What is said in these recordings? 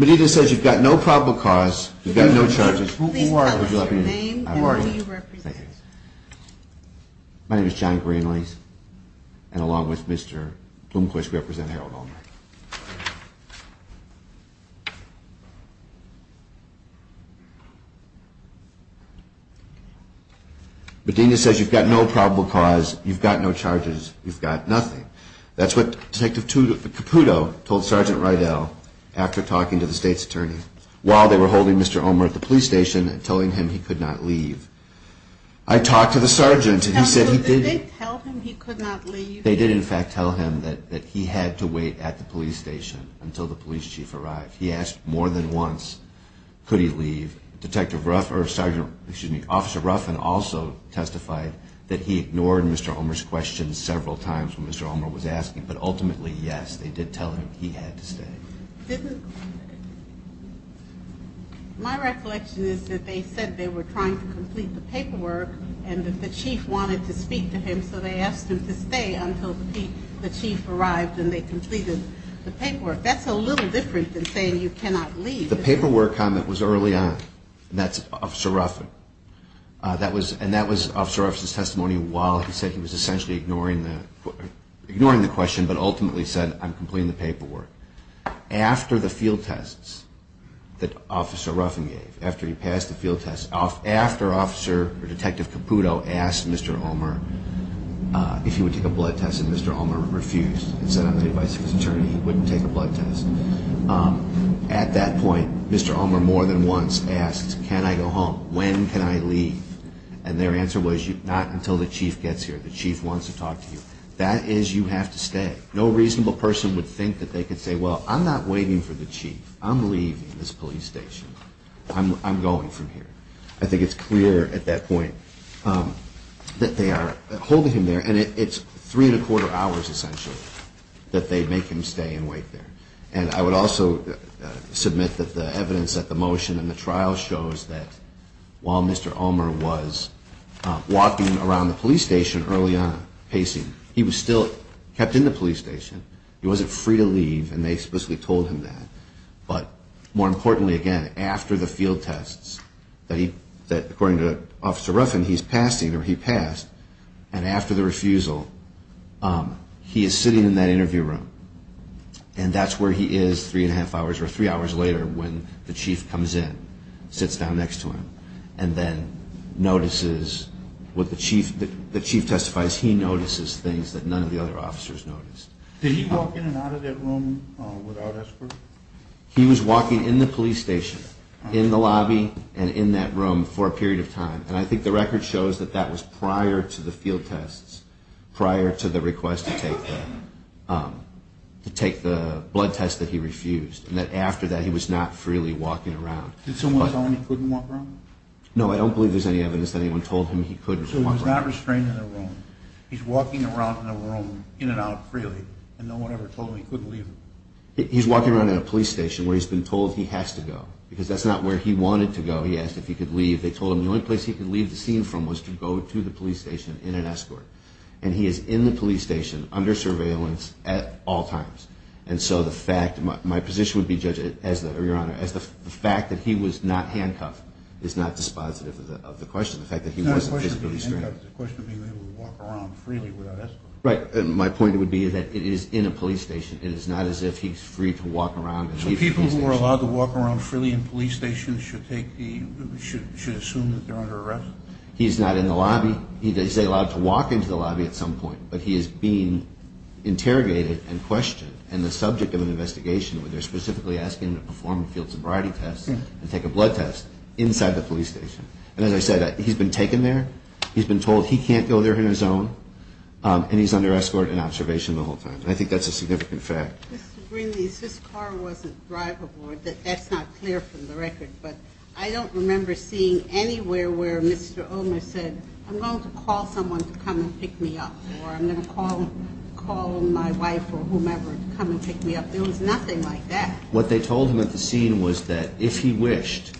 Medina says you've got no probable cause. You've got no charges. Who are you? You've got nothing. That's what Detective Caputo told Sgt. Rydell after talking to the state's attorney while they were holding Mr. Ulmer at the police station and telling him he couldn't do it. They did in fact tell him that he had to wait at the police station until the police chief arrived. He asked more than once could he leave. Officer Ruffin also testified that he ignored Mr. Ulmer's questions several times when Mr. Ulmer was asking, but ultimately, yes, they did tell him he had to stay. My recollection is that they said they were trying to complete the paperwork and that the chief wanted to speak to him so they asked him to stay until the chief arrived and they completed the paperwork. That's a little different than saying you cannot leave. The paperwork comment was early on. That's Officer Ruffin. And that was Officer Ruffin's testimony while he said he was essentially ignoring the question but ultimately said I'm completing the paperwork. After the field tests that Officer Ruffin gave, after he passed the field tests, after Detective Caputo asked Mr. Ulmer if he would take a blood test and Mr. Ulmer refused and said on the advice of his attorney he wouldn't take a blood test, at that point Mr. Ulmer more than once asked can I go home? When can I leave? And their answer was not until the chief gets here. The chief wants to talk to you. That is you have to stay. No reasonable person would think that they could say well I'm not waiting for the chief. I'm leaving this police station. I'm going from here. I think it's clear at that point that they are holding him there and it's three and a quarter hours essentially that they make him stay and wait there. And I would also submit that the evidence at the motion and the trial shows that while Mr. Ulmer was walking around the police station early on pacing, he was still kept in the police station. He wasn't free to leave and they explicitly told him that. But more importantly again after the field tests that according to Officer Ruffin he's passed either he passed and after the refusal he is sitting in that interview room and that's where he is three and a half hours or three hours later when the chief comes in, sits down next to him and then notices what the chief, the chief testifies he notices things that none of the other officers noticed. Did he walk in and out of that room without escort? He was walking in the police station in the lobby and in that room for a period of time and I think the record shows that that was prior to the field tests, prior to the request to take the blood test that he refused and that after that he was not freely walking around. Did someone tell him he couldn't walk around? No I don't believe there's any evidence that anyone told him he couldn't walk around. So he's not restrained in that room, he's walking around in that room in and out freely and no one ever told him he couldn't leave? He's walking around in a police station where he's been told he has to go because that's not where he wanted to go. He asked if he could leave, they told him the only place he could leave the scene from was to go to the police station in an escort and he is in the police station under surveillance at all times and so the fact, my position would be Judge, as the, your honor, as the fact that he was not handcuffed is not dispositive of the question, the fact that he wasn't physically stranded. Right, my point would be that it is in a police station, it is not as if he's free to walk around. So people who are allowed to walk around freely in police stations should assume that they're under arrest? He's not in the lobby, he's allowed to walk into the lobby at some point, but he is being interrogated and questioned and the subject of an investigation where they're specifically asking him to perform a field sobriety test and take a blood test inside the police station. And as I said, he's been taken there, he's been told he can't go there on his own, and he's under escort and observation the whole time. I think that's a significant fact. This car wasn't drivable, that's not clear from the record, but I don't remember seeing anywhere where Mr. Omer said, I'm going to call someone to come and pick me up or I'm going to call my wife or whomever to come and pick me up. There was nothing like that. What they told him at the scene was that if he wished,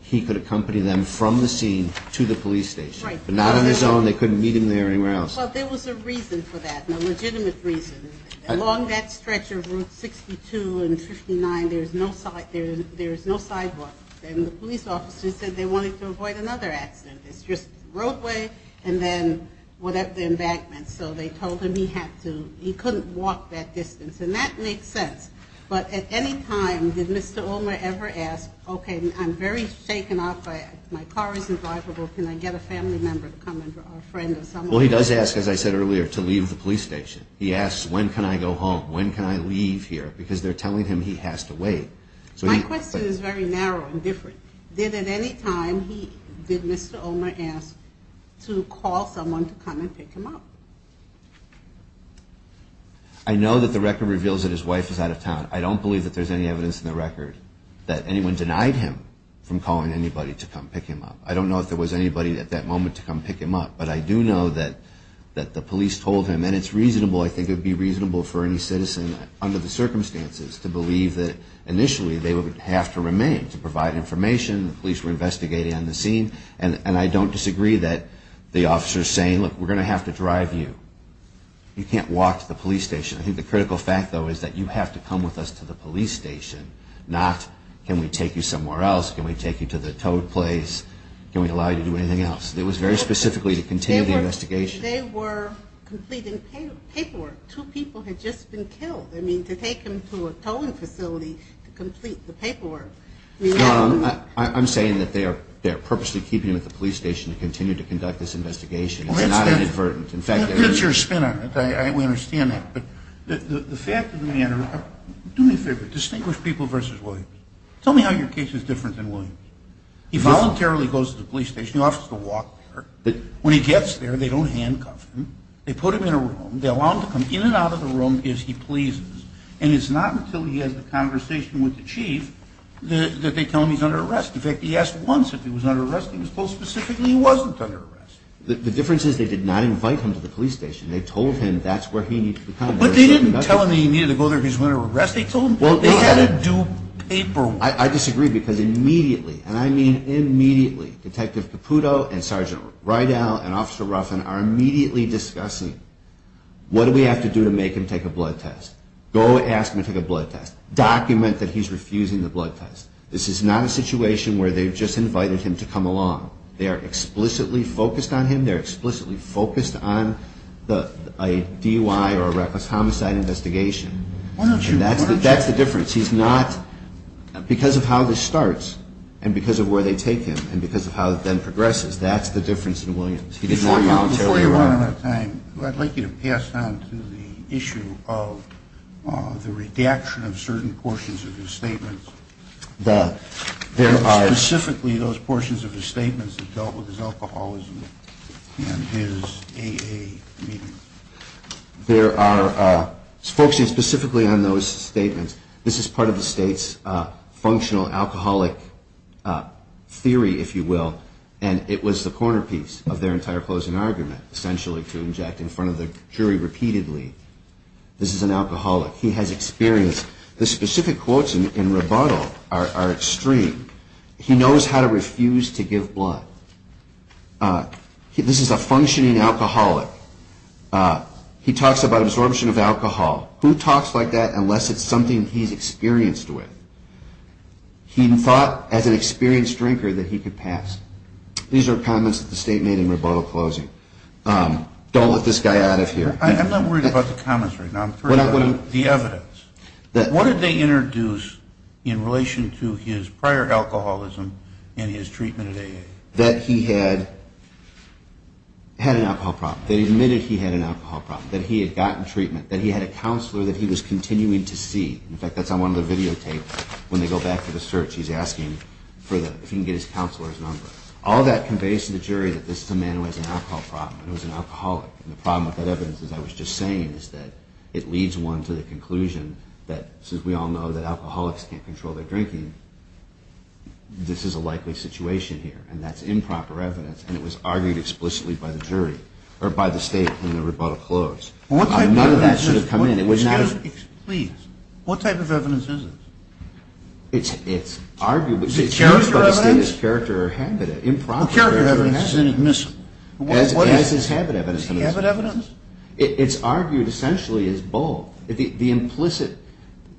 he could accompany them from the scene to the police station, but not on his own, they couldn't meet him there or anywhere else. Well, there was a reason for that, a legitimate reason. Along that stretch of Route 62 and 59, there's no sidewalk, and the police officer said they wanted to avoid another accident. It's just roadway and then the embankments. So they told him he couldn't walk that distance. And that makes sense. But at any time, did Mr. Omer ever ask, okay, I'm very shaken up, my car isn't drivable, can I get a family member to come or a friend or someone? Well, he does ask, as I said earlier, to leave the police station. He asks, when can I go home? When can I leave here? Because they're telling him he has to wait. My question is very narrow and different. Did at any time did Mr. Omer ask to call someone to come and pick him up? I know that the record reveals that his wife is out of town. I don't believe that there's any evidence in the record that anyone denied him from calling anybody to come pick him up. I don't know if there was anybody at that moment to come pick him up. But I do know that the police told him, and it's reasonable, I think it would be reasonable for any citizen under the circumstances to believe that initially they would have to remain to provide information. The police were investigating on the scene. And I don't disagree that the officer is saying, look, we're going to have to drive you. You can't walk to the police station. I think the critical fact, though, is that you have to come with us to the police station, not can we take you somewhere else? Can we take you to the toad place? Can we allow you to do anything else? It was very specifically to continue the investigation. They were completing paperwork. Two people had just been killed. I mean, to take him to a toad facility to complete the paperwork. I'm saying that they are purposely keeping him at the police station to continue to conduct this investigation. It's not inadvertent. It's your spin on it. I understand that. But the fact is, do me a favor. Distinguish people versus Williams. Tell me how your case is different than Williams. He voluntarily goes to the police station. He offers to walk there. When he gets there, they don't handcuff him. They put him in a room. They allow him to come in and out of the room as he pleases. And it's not until he has a conversation with the chief that they tell him he's under arrest. In fact, he asked once if he was under arrest. He was told specifically he wasn't under arrest. The difference is they did not invite him to the police station. They told him that's where he needed to be. But they didn't tell him he needed to go there if he was under arrest. They told him they had to do paperwork. I disagree because immediately, and I mean immediately, Detective Caputo and Sergeant Rydell and Officer Ruffin are immediately discussing what do we have to do to make him take a blood test. Go ask him to take a blood test. Document that he's refusing the blood test. This is not a situation where they've just invited him to come along. They are explicitly focused on him. They're explicitly focused on a DUI or a reckless homicide investigation. That's the difference. He's not, because of how this starts and because of where they take him and because of how it then progresses, that's the difference in Williams. Before you run out of time, I'd like you to pass on to the issue of the redaction of certain portions of his statements. Specifically those portions of his statements that dealt with his alcoholism and his AA meetings. There are, focusing specifically on those statements, this is part of the state's functional alcoholic theory, if you will, and it was the corner piece of their entire closing argument, essentially to inject in front of the jury repeatedly, this is an alcoholic. He has experienced, the specific quotes in rebuttal are extreme. He knows how to refuse to give blood. This is a functioning alcoholic. He talks about absorption of alcohol. Who talks like that unless it's something he's experienced with? He thought as an experienced drinker that he could pass. These are comments that the state made in rebuttal closing. Don't let this guy out of here. I'm not worried about the comments right now. I'm worried about the evidence. What did they introduce in relation to his prior alcoholism and his treatment at AA? That he had an alcohol problem, that he admitted he had an alcohol problem, that he had gotten treatment, that he had a counselor that he was continuing to see. In fact, that's on one of the videotapes. When they go back to the search, he's asking if he can get his counselor's number. All that conveys to the jury that this is a man who has an alcohol problem. He was an alcoholic. The problem with that evidence, as I was just saying, is that it leads one to the conclusion that, since we all know that alcoholics can't control their drinking, this is a likely situation here, and that's improper evidence, and it was argued explicitly by the state in the rebuttal close. None of that should have come in. Please, what type of evidence is this? Is it character evidence? Character evidence is inadmissible. As is habit evidence. Is he habit evidence? It's argued essentially as both. The implicit,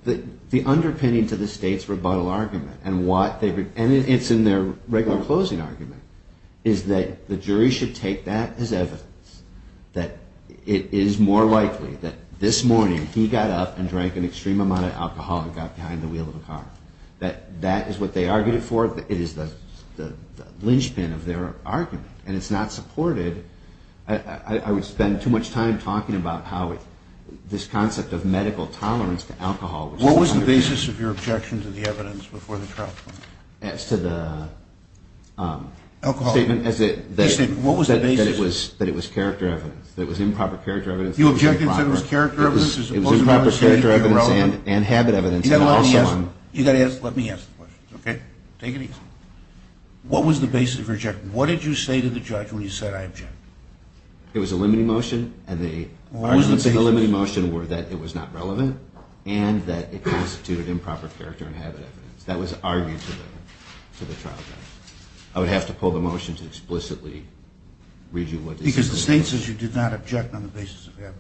the underpinning to the state's rebuttal argument, and it's in their regular closing argument, is that the jury should take that as evidence, that it is more likely that this morning he got up and drank an extreme amount of alcohol and got behind the wheel of a car. That is what they argued it for. It is the linchpin of their argument, and it's not supported. I would spend too much time talking about how this concept of medical tolerance to alcohol... What was the basis of your objection to the evidence before the trial? As to the statement that it was character evidence, that it was improper character evidence... You objected to it as character evidence as opposed to habit evidence? It was improper character evidence and habit evidence. You've got to let me answer the question. Okay. Take it easy. What was the basis of your objection? What did you say to the judge when you said I object? It was a limiting motion, and the arguments in the limiting motion were that it was not relevant, and that it constituted improper character and habit evidence. That was argued to the trial judge. I would have to pull the motion to explicitly read you what... Because the state says you did not object on the basis of habit.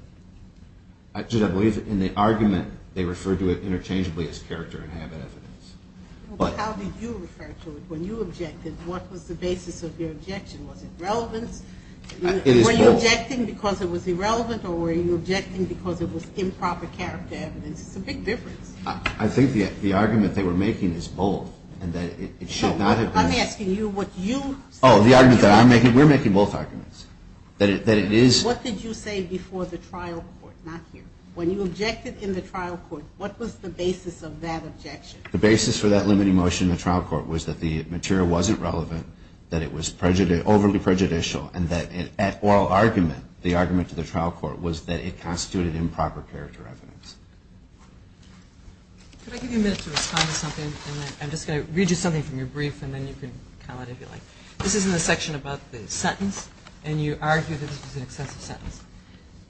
Actually, I believe in the argument they referred to it interchangeably as character and habit evidence. How did you refer to it when you objected? What was the basis of your objection? Was it relevance? It is both. Were you objecting because it was irrelevant, or were you objecting because it was improper character evidence? It's a big difference. I think the argument they were making is both, and that it should not have been... No, I'm asking you what you... Oh, the argument that I'm making, we're making both arguments, that it is... What did you say before the trial court? Not here. When you objected in the trial court, what was the basis of that objection? The basis for that limiting motion in the trial court was that the material wasn't relevant, that it was overly prejudicial, and that at oral argument, the argument to the trial court was that it constituted improper character evidence. Could I give you a minute to respond to something, and then I'm just going to read you something from your brief, and then you can comment if you like. This is in the section about the sentence, and you argue that this was an excessive sentence.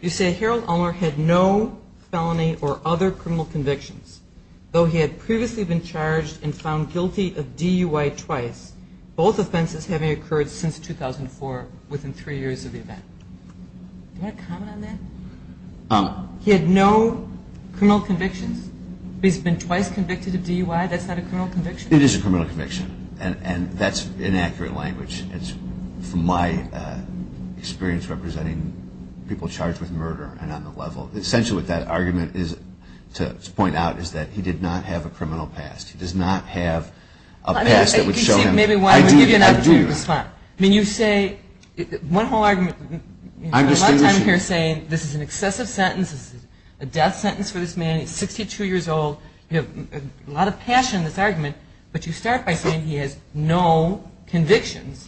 You say Harold Ulmer had no felony or other criminal convictions. Though he had previously been charged and found guilty of DUI twice, both offenses having occurred since 2004, within three years of the event. Do you want to comment on that? He had no criminal convictions? He's been twice convicted of DUI? That's not a criminal conviction? It is a criminal conviction, and that's inaccurate language. It's, from my experience, representing people charged with murder and on the level. Essentially what that argument is to point out is that he did not have a criminal past. He does not have a past that would show him. I mean, you say, one whole argument. You spend a lot of time here saying this is an excessive sentence. This is a death sentence for this man. He's 62 years old. You have a lot of passion in this argument, but you start by saying he has no convictions,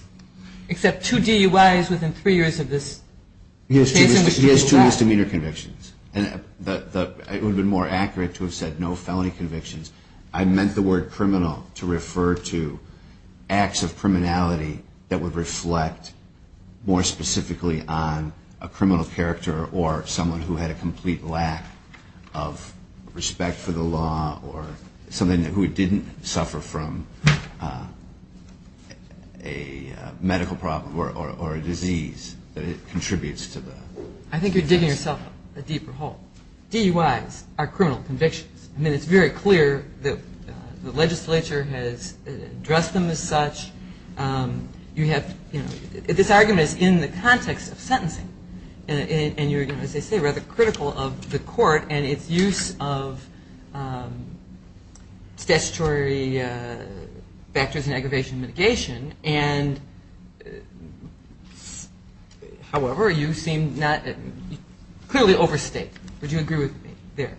except two DUIs within three years of this case. He has two misdemeanor convictions. It would have been more accurate to have said no felony convictions. I meant the word criminal to refer to acts of criminality that would reflect more specifically on a criminal character or someone who had a complete lack of respect for the law or something who didn't suffer from a medical problem or a disease that contributes to the offense. I think you're digging yourself a deeper hole. DUIs are criminal convictions. I mean, it's very clear that the legislature has addressed them as such. This argument is in the context of sentencing, and you're, as I say, rather critical of the court and its use of statutory factors in aggravation mitigation. However, you seem clearly overstated. Would you agree with me there?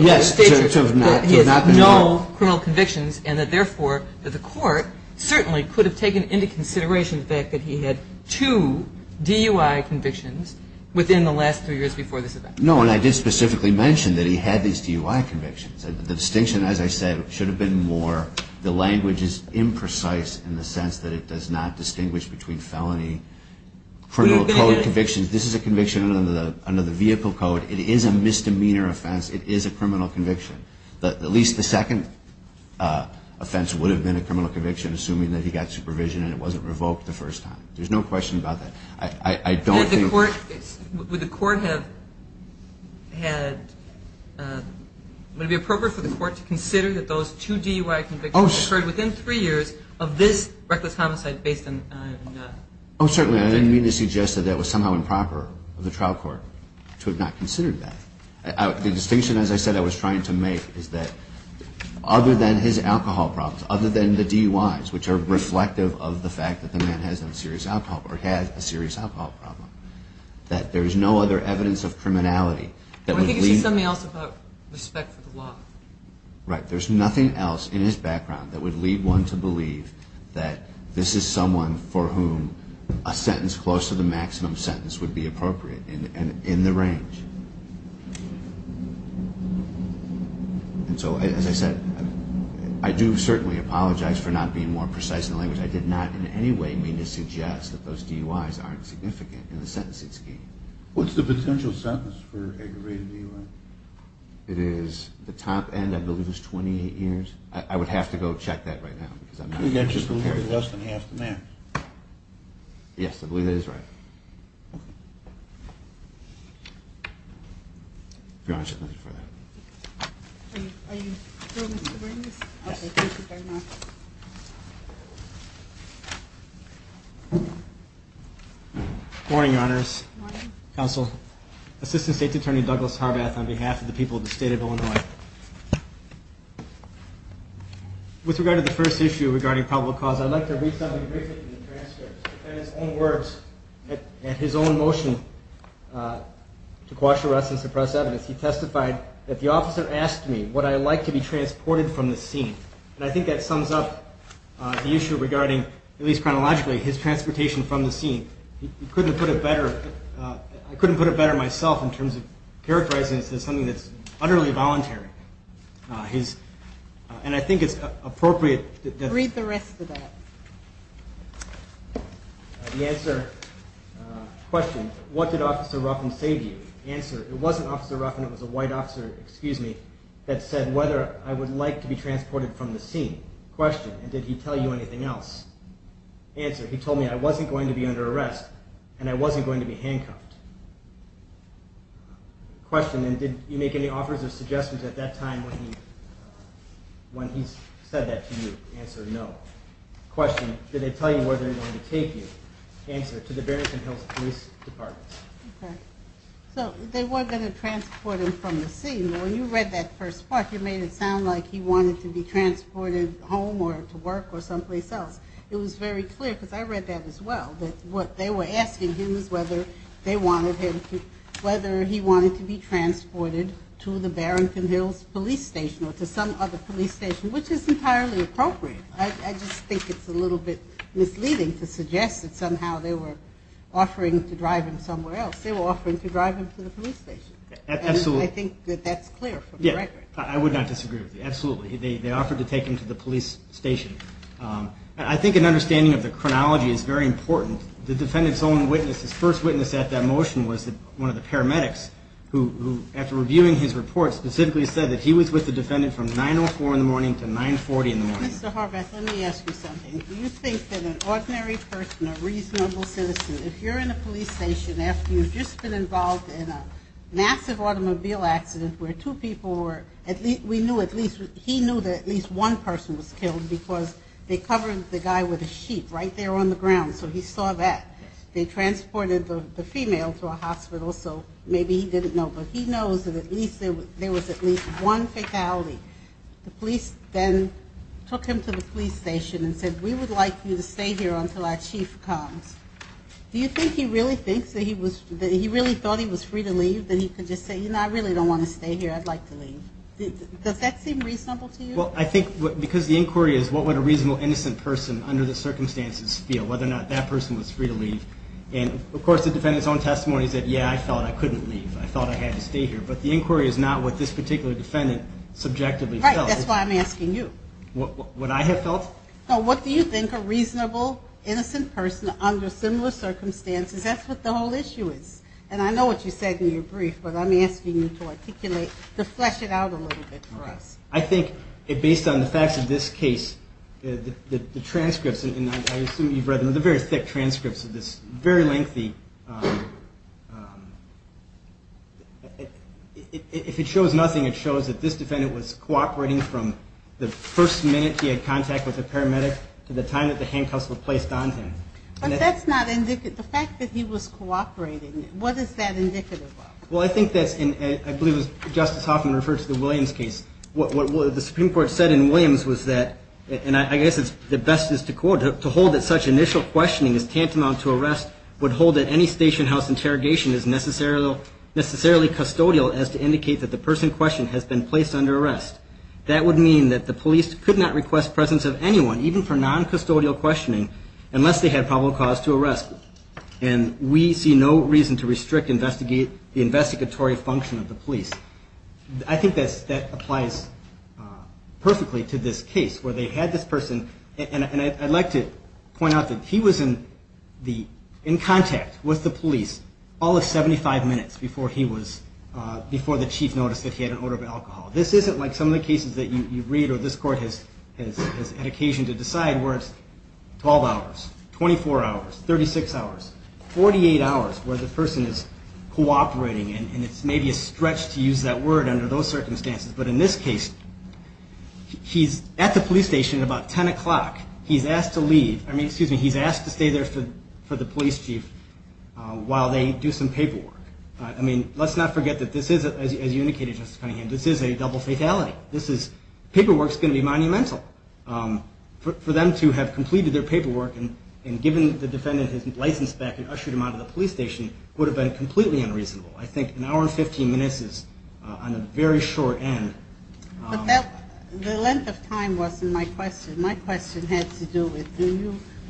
Yes. That he has no criminal convictions and that, therefore, that the court certainly could have taken into consideration the fact that he had two DUI convictions within the last three years before this event. No, and I did specifically mention that he had these DUI convictions. The distinction, as I said, should have been more the language is imprecise in the sense that it does not distinguish between felony criminal code convictions. This is a conviction under the vehicle code. It is a misdemeanor offense. It is a criminal conviction. At least the second offense would have been a criminal conviction, assuming that he got supervision and it wasn't revoked the first time. There's no question about that. Would it be appropriate for the court to consider that those two DUI convictions occurred within three years of this reckless homicide based on a felony conviction? Oh, certainly. I didn't mean to suggest that that was somehow improper of the trial court to have not considered that. The distinction, as I said, I was trying to make is that other than his alcohol problems, other than the DUIs, which are reflective of the fact that the man has a serious alcohol problem, that there is no other evidence of criminality. I think it's just something else about respect for the law. Right. There's nothing else in his background that would lead one to believe that this is someone for whom a sentence close to the maximum sentence would be appropriate and in the range. And so, as I said, I do certainly apologize for not being more precise in the language. I did not in any way mean to suggest that those DUIs aren't significant in the sentencing scheme. What's the potential sentence for aggravated DUI? It is the top end, I believe, is 28 years. I would have to go check that right now. That's just less than half the man. Yes, I believe that is right. Morning, Your Honors. Morning. Assistant State Attorney Douglas Harbath on behalf of the people of the State of Illinois. With regard to the first issue regarding probable cause, I'd like to read something briefly from the transcript. In his own words, in his own motion to quash arrests and suppress evidence, he testified that the officer asked me would I like to be transported from the scene. And I think that sums up the issue regarding, at least chronologically, his transportation from the scene. He couldn't put it better. I couldn't put it better myself in terms of characterizing this as something that's utterly voluntary. And I think it's appropriate. Read the rest of that. The answer, question, what did Officer Ruffin say to you? Answer, it wasn't Officer Ruffin. It was a white officer, excuse me, that said whether I would like to be transported from the scene. Question, and did he tell you anything else? Answer, he told me I wasn't going to be under arrest and I wasn't going to be handcuffed. Question, and did you make any offers or suggestions at that time when he said that to you? Answer, no. Question, did they tell you where they were going to take you? Answer, to the Barrington Hills Police Department. So they were going to transport him from the scene. When you read that first part, you made it sound like he wanted to be transported home or to work or someplace else. It was very clear, because I read that as well, that what they were asking him is whether they wanted him to, whether he wanted to be transported to the Barrington Hills Police Station or to some other police station, which is entirely appropriate. I just think it's a little bit misleading to suggest that somehow they were offering to drive him somewhere else. They were offering to drive him to the police station. Absolutely. And I think that that's clear from the record. I would not disagree with you. Absolutely. They offered to take him to the police station. I think an understanding of the chronology is very important. The defendant's own witness, his first witness at that motion was one of the paramedics who, after reviewing his report, specifically said that he was with the defendant from 9.04 in the morning to 9.40 in the morning. Mr. Horvath, let me ask you something. Do you think that an ordinary person, a reasonable citizen, if you're in a police station after you've just been involved in a massive automobile accident where two people were, we knew at least, he knew that at least one person was killed because they covered the guy with a sheet right there on the ground, so he saw that. They transported the female to a hospital, so maybe he didn't know, but he knows that at least there was at least one fatality. The police then took him to the police station and said, we would like you to stay here until our chief comes. Do you think he really thinks that he was, that he really thought he was free to leave, that he could just say, you know, I really don't want to stay here. I'd like to leave. Does that seem reasonable to you? Well, I think because the inquiry is what would a reasonable innocent person under the circumstances feel, whether or not that person was free to leave. And, of course, the defendant's own testimony is that, yeah, I felt I couldn't leave. I felt I had to stay here. But the inquiry is not what this particular defendant subjectively felt. Right. That's why I'm asking you. What I have felt? No, what do you think a reasonable innocent person under similar circumstances, that's what the whole issue is. And I know what you said in your brief, but I'm asking you to articulate, to flesh it out a little bit for us. Okay. I think based on the facts of this case, the transcripts, and I assume you've read them, they're very thick transcripts of this, very lengthy. If it shows nothing, it shows that this defendant was cooperating from the first minute he had contact with a paramedic to the time that the handcuffs were placed on him. But that's not indicative. The fact that he was cooperating, what is that indicative of? Well, I think that's in, I believe it was Justice Hoffman referred to the Williams case. What the Supreme Court said in Williams was that, and I guess the best is to quote, to hold that such initial questioning is tantamount to arrest, would hold that any station house interrogation is necessarily custodial as to indicate that the person questioned has been placed under arrest. That would mean that the police could not request presence of anyone, even for non-custodial questioning, unless they had probable cause to arrest. And we see no reason to restrict the investigatory function of the police. I think that applies perfectly to this case where they had this person, and I'd like to point out that he was in contact with the police all of 75 minutes before the chief noticed that he had an odor of alcohol. This isn't like some of the cases that you read or this court has had occasion to decide where it's 12 hours, 24 hours, 36 hours, 48 hours where the person is cooperating, and it's maybe a stretch to use that word under those circumstances. But in this case, he's at the police station at about 10 o'clock. He's asked to leave. I mean, excuse me, he's asked to stay there for the police chief while they do some paperwork. I mean, let's not forget that this is, as you indicated, Justice Cunningham, this is a double fatality. Paperwork is going to be monumental. For them to have completed their paperwork and given the defendant his license back and ushered him out of the police station would have been completely unreasonable. I think an hour and 15 minutes is on a very short end. But the length of time wasn't my question. My question had to do with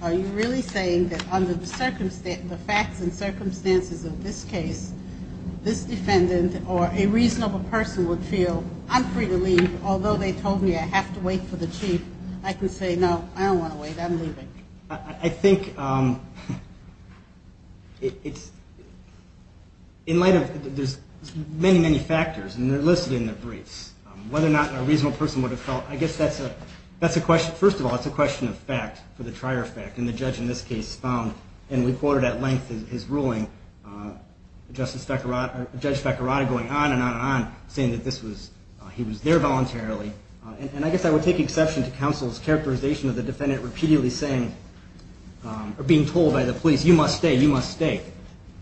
are you really saying that under the facts and circumstances of this case, this defendant or a reasonable person would feel, I'm free to leave, although they told me I have to wait for the chief. I can say, no, I don't want to wait. I'm leaving. I think it's in light of there's many, many factors, and they're listed in the briefs, whether or not a reasonable person would have felt. I guess that's a question. First of all, it's a question of fact for the trier of fact. And the judge in this case found, and we quoted at length his ruling, Judge Fekirada going on and on and on, saying that he was there voluntarily. And I guess I would take exception to counsel's characterization of the defendant being told by the police, you must stay, you must stay.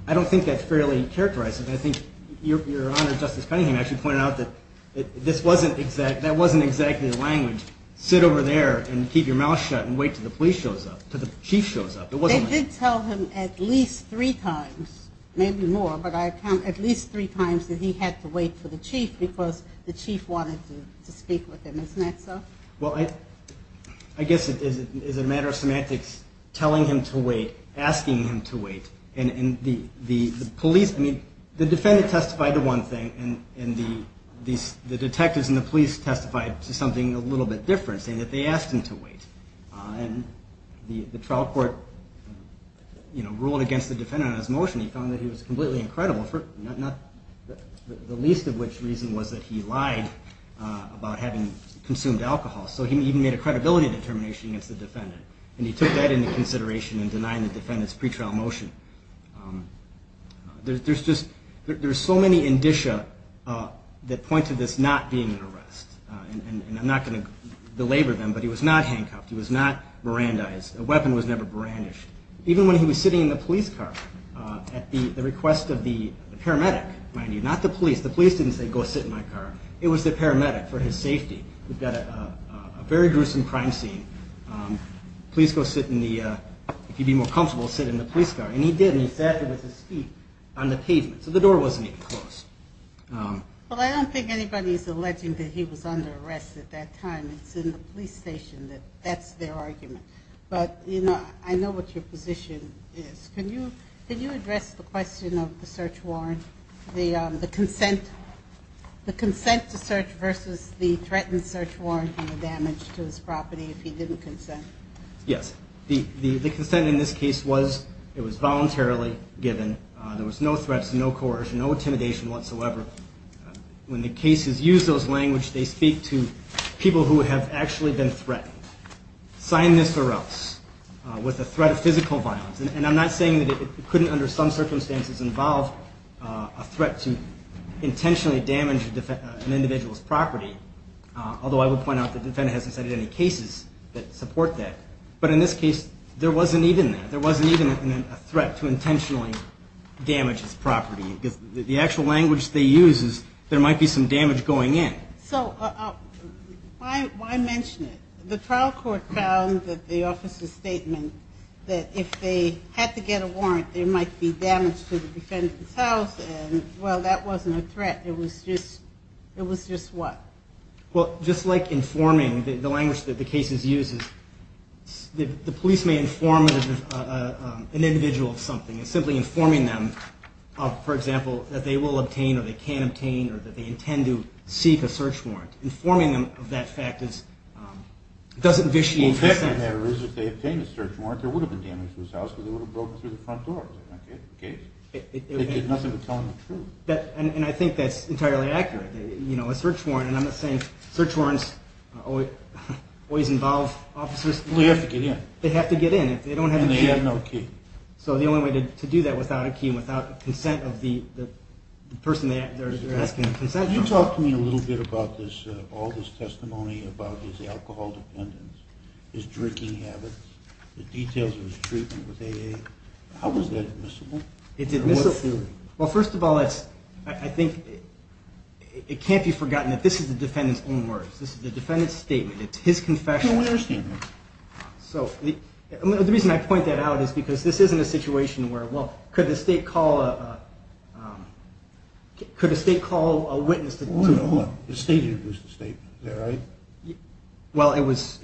I don't think that's fairly characterizing. I think your Honor, Justice Cunningham, actually pointed out that that wasn't exactly the language. Sit over there and keep your mouth shut and wait until the police shows up, until the chief shows up. They did tell him at least three times, maybe more, but I count at least three times that he had to wait for the chief because the chief wanted to speak with him. Isn't that so? Well, I guess it is a matter of semantics, telling him to wait, asking him to wait. And the police, I mean, the defendant testified to one thing, and the detectives and the police testified to something a little bit different, saying that they asked him to wait. And the trial court ruled against the defendant on his motion. He found that he was completely incredible, the least of which reason was that he lied about having consumed alcohol. So he even made a credibility determination against the defendant, and he took that into consideration in denying the defendant's pretrial motion. There's just so many indicia that point to this not being an arrest. And I'm not going to belabor them, but he was not handcuffed. He was not Mirandized. The weapon was never brandished. Even when he was sitting in the police car at the request of the paramedic, not the police, the police didn't say, go sit in my car. It was the paramedic for his safety. We've got a very gruesome crime scene. Police go sit in the, if you'd be more comfortable, sit in the police car. And he did, and he sat there with his feet on the pavement, so the door wasn't even closed. Well, I don't think anybody's alleging that he was under arrest at that time. It's in the police station that that's their argument. But, you know, I know what your position is. Can you address the question of the search warrant, the consent to search versus the threatened search warrant and the damage to his property if he didn't consent? Yes. The consent in this case was it was voluntarily given. There was no threats, no coercion, no intimidation whatsoever. When the cases use those languages, they speak to people who have actually been threatened, sign this or else, with the threat of physical violence. And I'm not saying that it couldn't, under some circumstances, involve a threat to intentionally damage an individual's property, although I will point out the defendant hasn't cited any cases that support that. But in this case, there wasn't even that. There wasn't even a threat to intentionally damage his property. The actual language they use is there might be some damage going in. So why mention it? The trial court found that the officer's statement that if they had to get a warrant, there might be damage to the defendant's house, and, well, that wasn't a threat. It was just what? Well, just like informing, the language that the cases use is the police may inform an individual of something. It's simply informing them, for example, that they will obtain or they can obtain or that they intend to seek a search warrant. Informing them of that fact doesn't vitiate consent. Well, the fact of the matter is if they obtained a search warrant, there would have been damage to his house because it would have broken through the front door. They did nothing but tell him the truth. And I think that's entirely accurate. A search warrant, and I'm not saying search warrants always involve officers. Well, they have to get in. They have to get in. And they have no key. So the only way to do that without a key and without the consent of the person they're asking for consent from. Can you talk to me a little bit about all this testimony about his alcohol dependence, his drinking habits, the details of his treatment with AA? How is that admissible? Well, first of all, I think it can't be forgotten that this is the defendant's own words. This is the defendant's statement. It's his confession. No, I understand that. So the reason I point that out is because this isn't a situation where, well, could the state call a witness to the whole? The state introduced the statement. Is that right? Well, it was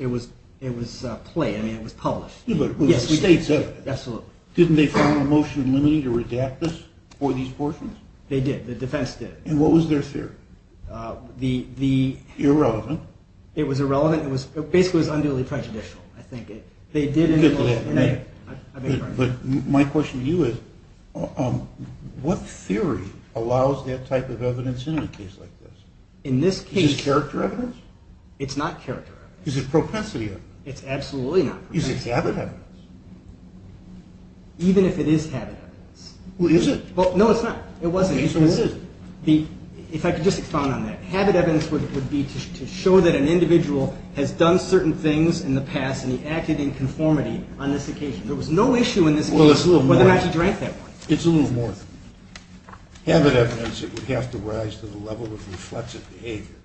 play. I mean, it was published. Yeah, but it was the state's evidence. Absolutely. Didn't they find a motion limiting to redact this for these portions? They did. The defense did. And what was their theory? The irrelevant. It was irrelevant. It basically was unduly prejudicial, I think. They did. But my question to you is, what theory allows that type of evidence in a case like this? In this case. Is it character evidence? It's not character evidence. Is it propensity evidence? It's absolutely not propensity evidence. Is it habit evidence? Even if it is habit evidence. Well, is it? No, it's not. It wasn't. If I could just expound on that. Habit evidence would be to show that an individual has done certain things in the past and he acted in conformity on this occasion. There was no issue in this case whether or not he drank that wine. It's a little more. Habit evidence, it would have to rise to the level of reflexive behavior.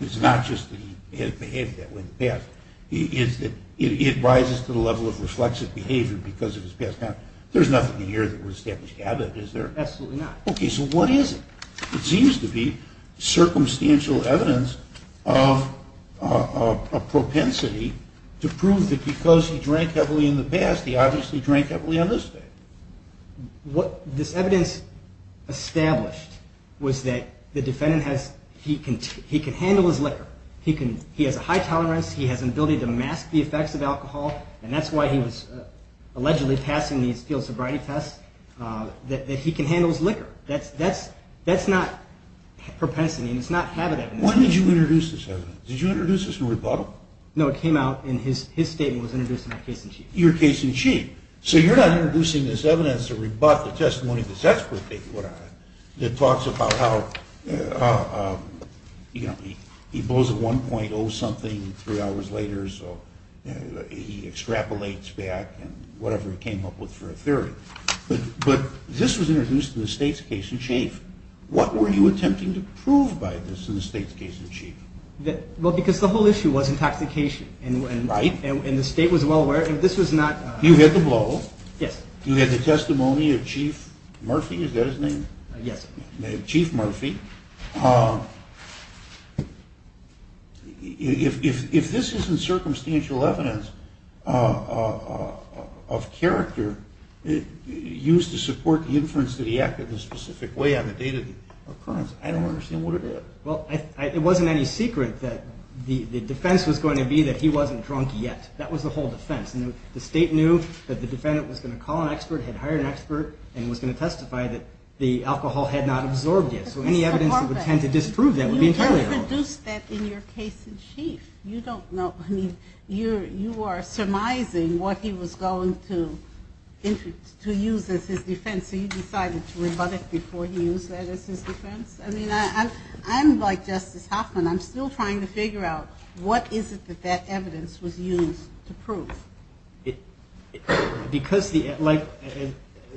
It's not just that he has behaved that way in the past. It rises to the level of reflexive behavior because of his past conduct. There's nothing in here that would establish habit, is there? Absolutely not. Okay, so what is it? It seems to be circumstantial evidence of propensity to prove that because he drank heavily in the past, he obviously drank heavily on this day. What this evidence established was that the defendant, he can handle his liquor. He has a high tolerance. He has an ability to mask the effects of alcohol, and that's why he was allegedly passing these field sobriety tests, that he can handle his liquor. That's not propensity, and it's not habit evidence. When did you introduce this evidence? Did you introduce this through rebuttal? No, it came out in his statement. It was introduced in my case in chief. Your case in chief. So you're not introducing this evidence to rebut the testimony of this expert, that talks about how he blows a 1.0 something three hours later, so he extrapolates back and whatever he came up with for a theory. But this was introduced in the state's case in chief. What were you attempting to prove by this in the state's case in chief? Well, because the whole issue was intoxication. Right. And the state was well aware, and this was not. You had the blow. Yes. You had the testimony of Chief Murphy. Is that his name? Yes. Chief Murphy. If this isn't circumstantial evidence of character, used to support the inference that he acted in a specific way on the date of the occurrence, I don't understand what it is. Well, it wasn't any secret that the defense was going to be that he wasn't drunk yet. That was the whole defense. And the state knew that the defendant was going to call an expert, had hired an expert, and was going to testify that the alcohol had not absorbed yet. So any evidence that would tend to disprove that would be entirely wrong. You introduced that in your case in chief. You don't know. I mean, you are surmising what he was going to use as his defense, so you decided to rebut it before he used that as his defense? I mean, I'm like Justice Hoffman. I'm still trying to figure out what is it that that evidence was used to prove. Because, like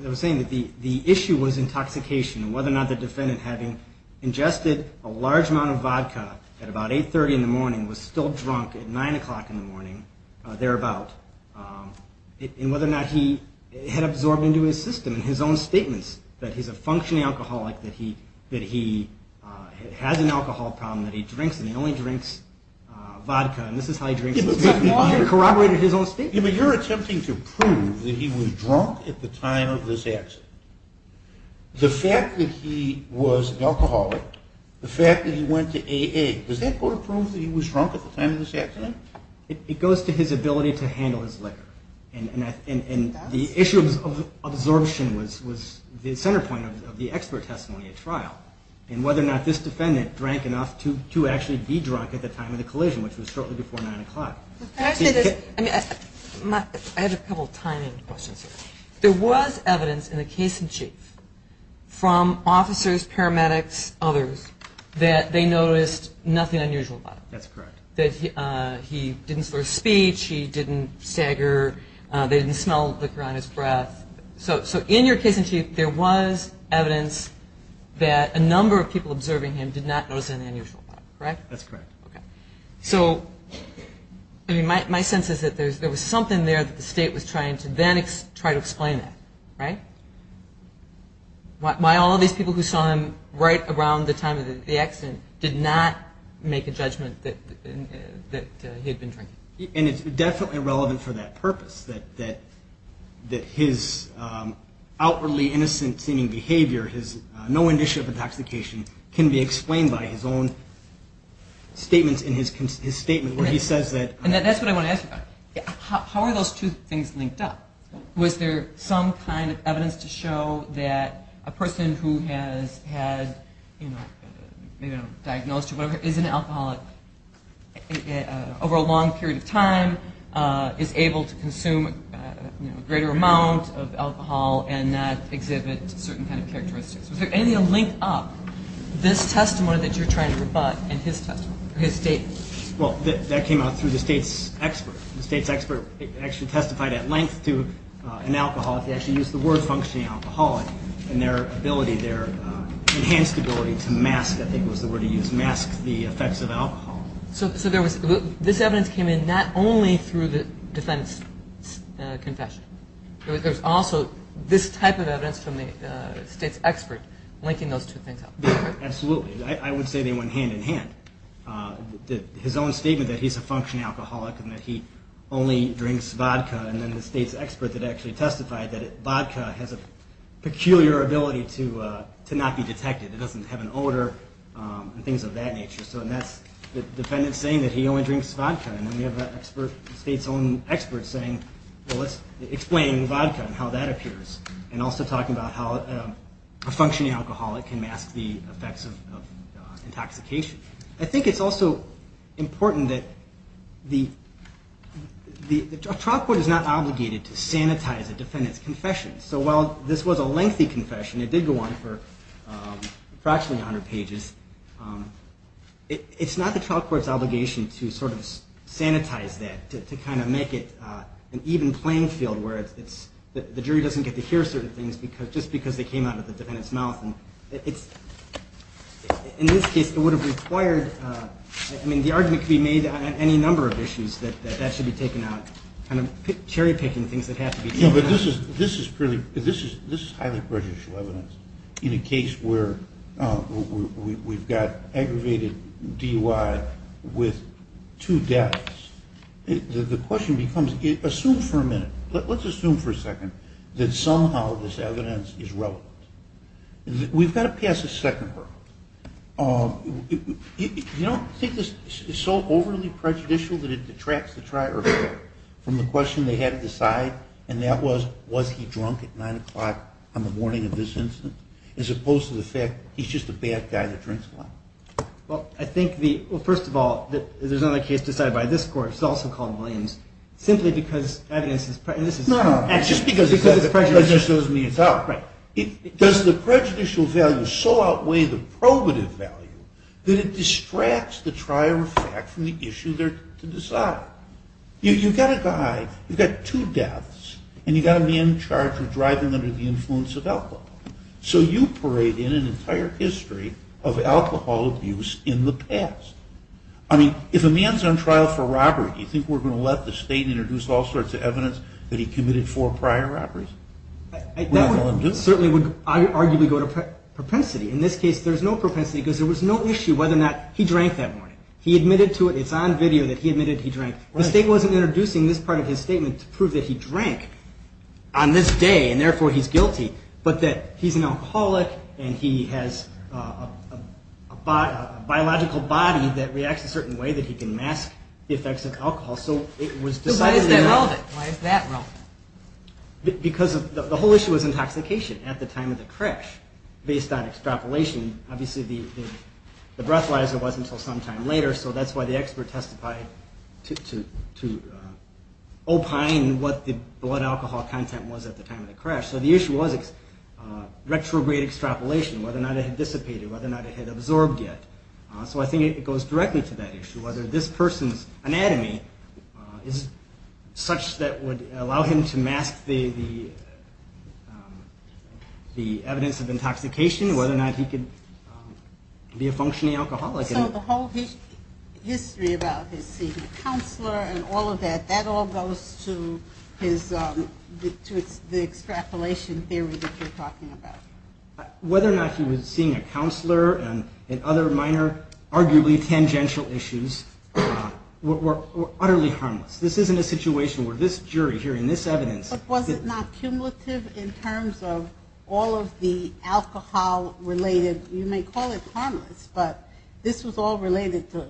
I was saying, the issue was intoxication and whether or not the defendant, having ingested a large amount of vodka at about 830 in the morning, was still drunk at 9 o'clock in the morning, thereabout, and whether or not he had absorbed into his system in his own statements that he's a functioning alcoholic, that he has an alcohol problem, that he drinks and he only drinks vodka, and this is how he drinks his vodka. He corroborated his own statements. But you're attempting to prove that he was drunk at the time of this accident. The fact that he was an alcoholic, the fact that he went to AA, does that go to prove that he was drunk at the time of this accident? It goes to his ability to handle his liquor. And the issue of absorption was the center point of the expert testimony at trial. And whether or not this defendant drank enough to actually be drunk at the time of the collision, which was shortly before 9 o'clock. Can I say this? I had a couple of timing questions. There was evidence in the case in chief from officers, paramedics, others, that they noticed nothing unusual about him. That's correct. That he didn't swear speech, he didn't stagger, they didn't smell liquor on his breath. So in your case in chief, there was evidence that a number of people observing him did not notice anything unusual about him, correct? That's correct. Okay. So my sense is that there was something there that the state was trying to then try to explain that, right? Why all these people who saw him right around the time of the accident did not make a judgment that he had been drinking. And it's definitely relevant for that purpose, that his outwardly innocent-seeming behavior, no indication of intoxication, can be explained by his own statements in his statement where he says that. And that's what I want to ask you about. How are those two things linked up? Was there some kind of evidence to show that a person who has had, maybe a diagnosis or whatever, is an alcoholic over a long period of time, is able to consume a greater amount of alcohol and that exhibits certain kind of characteristics? Was there anything linked up, this testimony that you're trying to rebut and his testimony, his statement? Well, that came out through the state's expert. The state's expert actually testified at length to an alcoholic. They actually used the word functioning alcoholic and their enhanced ability to mask, I think was the word he used, mask the effects of alcohol. So this evidence came in not only through the defense confession. There's also this type of evidence from the state's expert linking those two things up. Absolutely. I would say they went hand in hand. His own statement that he's a functioning alcoholic and that he only drinks vodka and then the state's expert that actually testified that vodka has a peculiar ability to not be detected. It doesn't have an odor and things of that nature. So that's the defendant saying that he only drinks vodka. Then you have the state's own expert saying, well, let's explain vodka and how that appears and also talking about how a functioning alcoholic can mask the effects of intoxication. I think it's also important that the trial court is not obligated to sanitize a defendant's confession. So while this was a lengthy confession, it did go on for approximately 100 pages, it's not the trial court's obligation to sort of sanitize that, to kind of make it an even playing field where the jury doesn't get to hear certain things just because they came out of the defendant's mouth. In this case, it would have required, I mean, the argument could be made on any number of issues that that should be taken out, kind of cherry picking things that have to be taken out. This is highly prejudicial evidence. In a case where we've got aggravated DUI with two deaths, the question becomes, assume for a minute, let's assume for a second that somehow this evidence is relevant. We've got to pass a second verdict. You don't think this is so overly prejudicial that it detracts the trial court from the question they had to decide, and that was, was he drunk at 9 o'clock on the morning of this incident, as opposed to the fact he's just a bad guy that drinks a lot. Well, I think the, well, first of all, there's another case decided by this court, which is also called Williams, simply because evidence is prejudicial. No, no, just because it's prejudicial doesn't mean it's out. Right. Does the prejudicial value so outweigh the probative value that it distracts the trial from the issue they're to decide? You've got a guy, you've got two deaths, and you've got a man charged with driving under the influence of alcohol. So you parade in an entire history of alcohol abuse in the past. I mean, if a man's on trial for robbery, do you think we're going to let the state introduce all sorts of evidence that he committed four prior robberies? That certainly would arguably go to propensity. In this case, there's no propensity because there was no issue whether or not he drank that morning. He admitted to it. It's on video that he admitted he drank. The state wasn't introducing this part of his statement to prove that he drank on this day, that he can mask the effects of alcohol. So why is that relevant? Because the whole issue was intoxication at the time of the crash, based on extrapolation. Obviously, the breathalyzer wasn't until some time later, so that's why the expert testified to opine what the blood alcohol content was at the time of the crash. So the issue was retrograde extrapolation, whether or not it had dissipated, whether or not it had absorbed yet. So I think it goes directly to that issue, whether this person's anatomy is such that would allow him to mask the evidence of intoxication, whether or not he could be a functioning alcoholic. So the whole history about his seeing a counselor and all of that, that all goes to the extrapolation theory that you're talking about. Whether or not he was seeing a counselor and other minor, arguably tangential issues were utterly harmless. This isn't a situation where this jury hearing this evidence... But was it not cumulative in terms of all of the alcohol-related, you may call it harmless, but this was all related to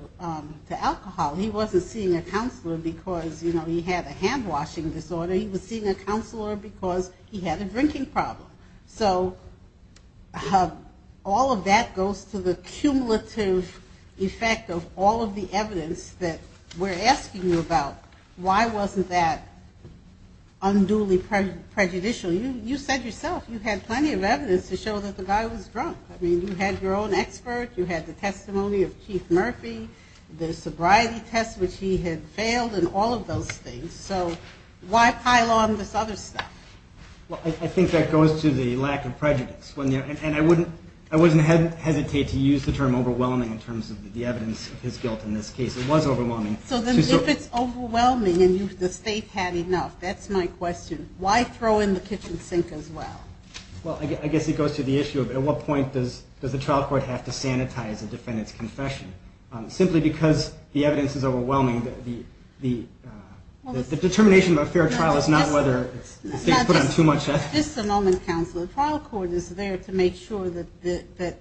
alcohol. He wasn't seeing a counselor because he had a hand-washing disorder. He was seeing a counselor because he had a drinking problem. So all of that goes to the cumulative effect of all of the evidence that we're asking you about. Why wasn't that unduly prejudicial? You said yourself you had plenty of evidence to show that the guy was drunk. I mean, you had your own expert, you had the testimony of Keith Murphy, the sobriety test which he had failed and all of those things. So why pile on this other stuff? Well, I think that goes to the lack of prejudice. And I wouldn't hesitate to use the term overwhelming in terms of the evidence of his guilt in this case. It was overwhelming. So then if it's overwhelming and the state had enough, that's my question, why throw in the kitchen sink as well? Well, I guess it goes to the issue of at what point does the trial court have to sanitize a defendant's confession? Simply because the evidence is overwhelming, the determination of a fair trial is not whether... Just a moment, counsel. The trial court is there to make sure that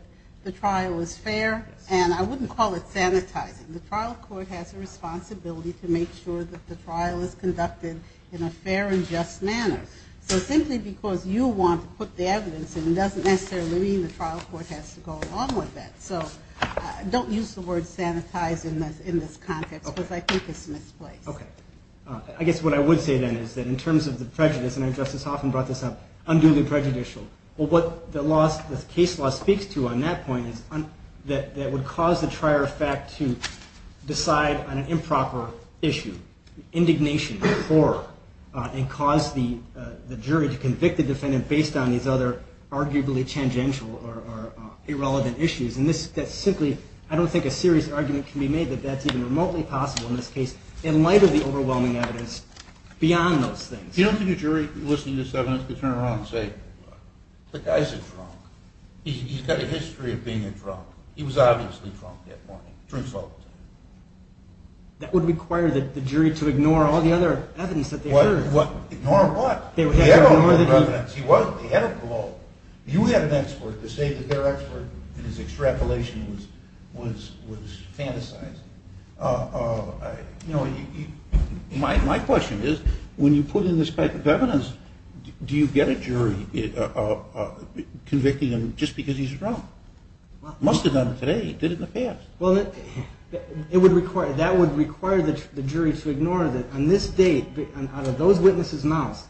the trial is fair, and I wouldn't call it sanitizing. The trial court has a responsibility to make sure that the trial is conducted in a fair and just manner. So simply because you want to put the evidence in doesn't necessarily mean the trial court has to go along with that. So don't use the word sanitize in this context because I think it's misplaced. Okay. I guess what I would say then is that in terms of the prejudice, and Justice Hoffman brought this up, unduly prejudicial. Well, what the case law speaks to on that point is that it would cause the trier of fact to decide on an improper issue, indignation, horror, and cause the jury to convict the defendant based on these other arguably tangential or irrelevant issues. And that's simply, I don't think a serious argument can be made that that's even remotely possible in this case. In light of the overwhelming evidence beyond those things. You don't think a jury listening to this evidence could turn around and say, the guy's a drunk. He's got a history of being a drunk. He was obviously drunk that morning. Drinks all the time. That would require the jury to ignore all the other evidence that they heard. Ignore what? The evidence. He wasn't. He had a blow. You had an expert to say that their expert, and his extrapolation was fantasized. My question is, when you put in this type of evidence, do you get a jury convicting him just because he's drunk? Must have done it today. Did it in the past. That would require the jury to ignore that on this date, out of those witnesses' mouths,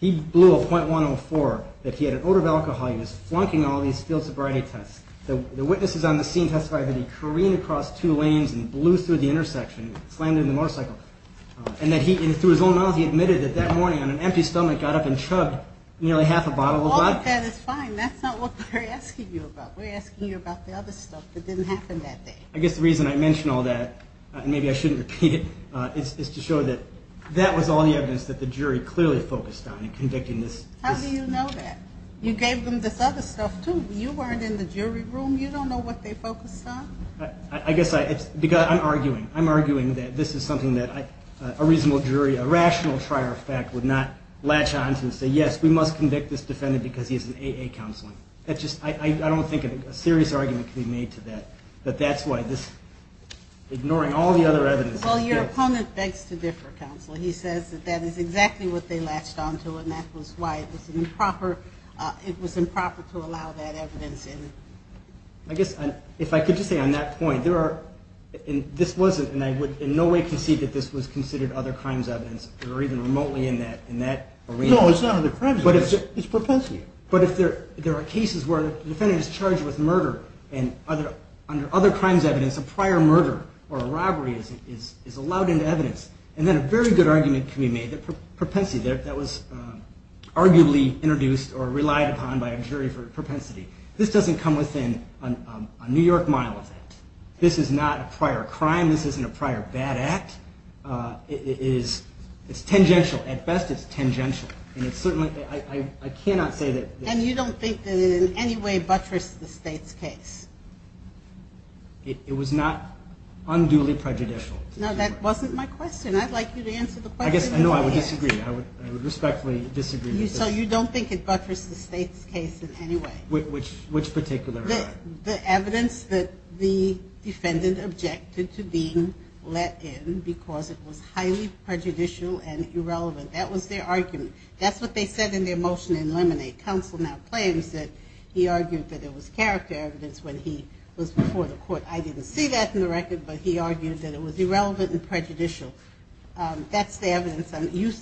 he blew a .104. That he had an odor of alcohol. He was flunking all these field sobriety tests. The witnesses on the scene testified that he careened across two lanes and blew through the intersection. Slammed into the motorcycle. And through his own mouth, he admitted that that morning on an empty stomach, got up and chugged nearly half a bottle of vodka. All of that is fine. That's not what we're asking you about. We're asking you about the other stuff that didn't happen that day. I guess the reason I mention all that, and maybe I shouldn't repeat it, is to show that that was all the evidence that the jury clearly focused on in convicting this. How do you know that? You gave them this other stuff, too. You weren't in the jury room. You don't know what they focused on? I guess I'm arguing. I'm arguing that this is something that a reasonable jury, a rational trier of fact, would not latch on to and say, yes, we must convict this defendant because he has an AA counseling. I don't think a serious argument can be made to that, that that's why this, ignoring all the other evidence. Well, your opponent begs to differ, counsel. He says that that is exactly what they latched on to, and that was why it was improper to allow that evidence in. I guess if I could just say on that point, there are, and this wasn't, and I would in no way concede that this was considered other crimes evidence, or even remotely in that arena. No, it's not other crimes evidence. It's propensity. But if there are cases where the defendant is charged with murder, and under other crimes evidence, a prior murder or a robbery is allowed into evidence, and then a very good argument can be made that propensity, that was arguably introduced or relied upon by a jury for propensity. This doesn't come within a New York model of that. This is not a prior crime. This isn't a prior bad act. It's tangential. At best, it's tangential. And it's certainly, I cannot say that. And you don't think that it in any way buttressed the state's case? It was not unduly prejudicial. Now, that wasn't my question. I'd like you to answer the question. I know I would disagree. I would respectfully disagree with this. So you don't think it buttressed the state's case in any way? Which particular? The evidence that the defendant objected to being let in because it was highly prejudicial and irrelevant. That was their argument. That's what they said in their motion in Lemonade. Counsel now claims that he argued that it was character evidence when he was before the court. I didn't see that in the record, but he argued that it was irrelevant and prejudicial. That's the evidence. You're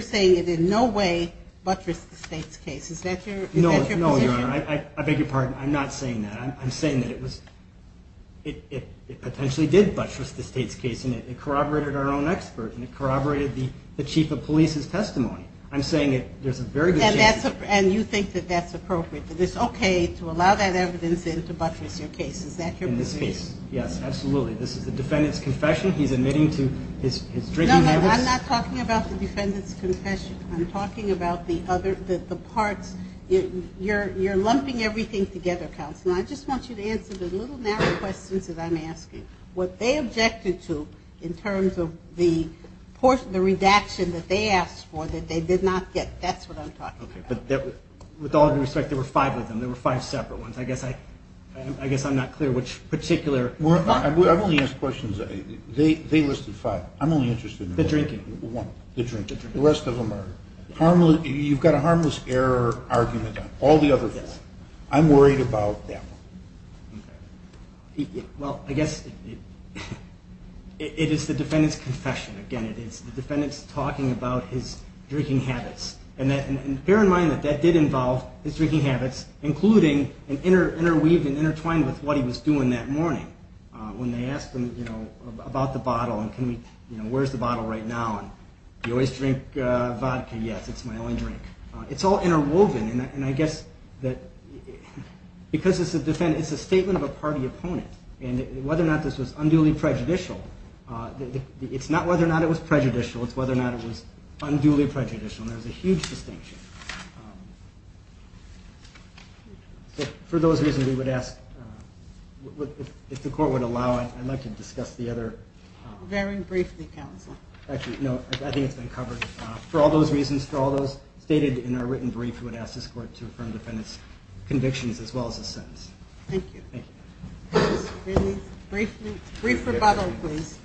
saying it in no way buttressed the state's case. Is that your position? No, Your Honor. I beg your pardon. I'm not saying that. I'm saying that it potentially did buttress the state's case. And it corroborated our own expert. And it corroborated the chief of police's testimony. I'm saying there's a very good chance. And you think that that's appropriate, that it's okay to allow that evidence in to buttress your case. Is that your position? Yes, absolutely. This is the defendant's confession. He's admitting to his drinking habits. No, no, I'm not talking about the defendant's confession. I'm talking about the parts. You're lumping everything together, counsel. I just want you to answer the little narrow questions that I'm asking. What they objected to in terms of the portion, the redaction that they asked for that they did not get, that's what I'm talking about. Okay, but with all due respect, there were five of them. There were five separate ones. I guess I'm not clear which particular. I've only asked questions. They listed five. I'm only interested in one. The drinking. One. The drinking. The rest of them are. You've got a harmless error argument on all the other four. I'm worried about that one. Okay. Well, I guess it is the defendant's confession. Again, it is the defendant's talking about his drinking habits. And bear in mind that that did involve his drinking habits, including and intertwined with what he was doing that morning when they asked him about the bottle and where's the bottle right now. You always drink vodka. Yes, it's my only drink. It's all interwoven. And I guess that because it's a statement of a party opponent, and whether or not this was unduly prejudicial, it's not whether or not it was prejudicial, it's whether or not it was unduly prejudicial, and there's a huge distinction. So for those reasons, we would ask if the court would allow it, I'd like to discuss the other. Very briefly, counsel. Actually, no, I think it's been covered. For all those reasons, for all those stated in our written brief, we would ask this court to affirm the defendant's convictions as well as his sentence. Thank you. Brief rebuttal, please.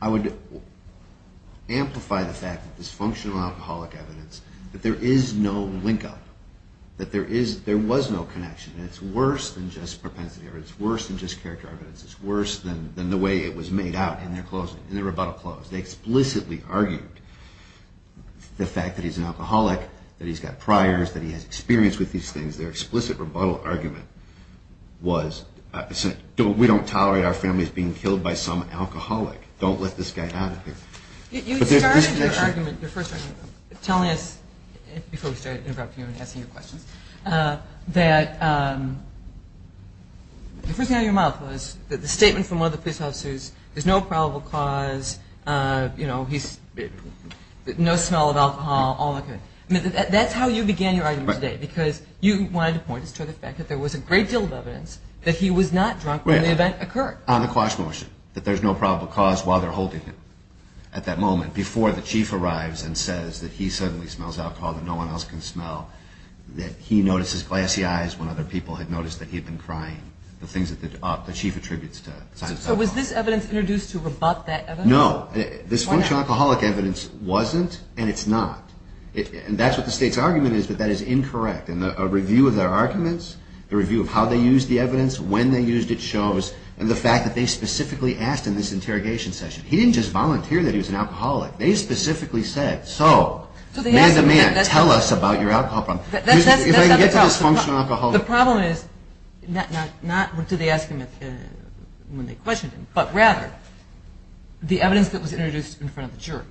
I would amplify the fact that this functional alcoholic evidence, that there is no linkup, that there was no connection, and it's worse than just propensity, or it's worse than just character evidence. It's worse than the way it was made out in the rebuttal clause. They explicitly argued the fact that he's an alcoholic, that he's got priors, that he has experience with these things. Their explicit rebuttal argument was, we don't tolerate our families being killed by some alcoholic. Don't let this guy out of here. You started your argument, your first argument, telling us, before we start interrupting you and asking you questions, that the first thing out of your mouth was that the statement from one of the police officers, there's no probable cause, no smell of alcohol, all that good. That's how you began your argument today, because you wanted to point us to the fact that there was a great deal of evidence that he was not drunk when the event occurred. On the quash motion, that there's no probable cause while they're holding him at that moment, before the chief arrives and says that he suddenly smells alcohol that no one else can smell, that he notices glassy eyes when other people had noticed that he had been crying, the things that the chief attributes to signs of alcohol. So was this evidence introduced to rebut that evidence? No. This functional alcoholic evidence wasn't, and it's not. And that's what the state's argument is, but that is incorrect. And a review of their arguments, a review of how they used the evidence, when they used it shows, and the fact that they specifically asked in this interrogation session. He didn't just volunteer that he was an alcoholic. They specifically said, so, man-to-man, tell us about your alcohol problem. If I can get to this functional alcoholic. The problem is not what they asked him when they questioned him, but rather the evidence that was introduced in front of the juror.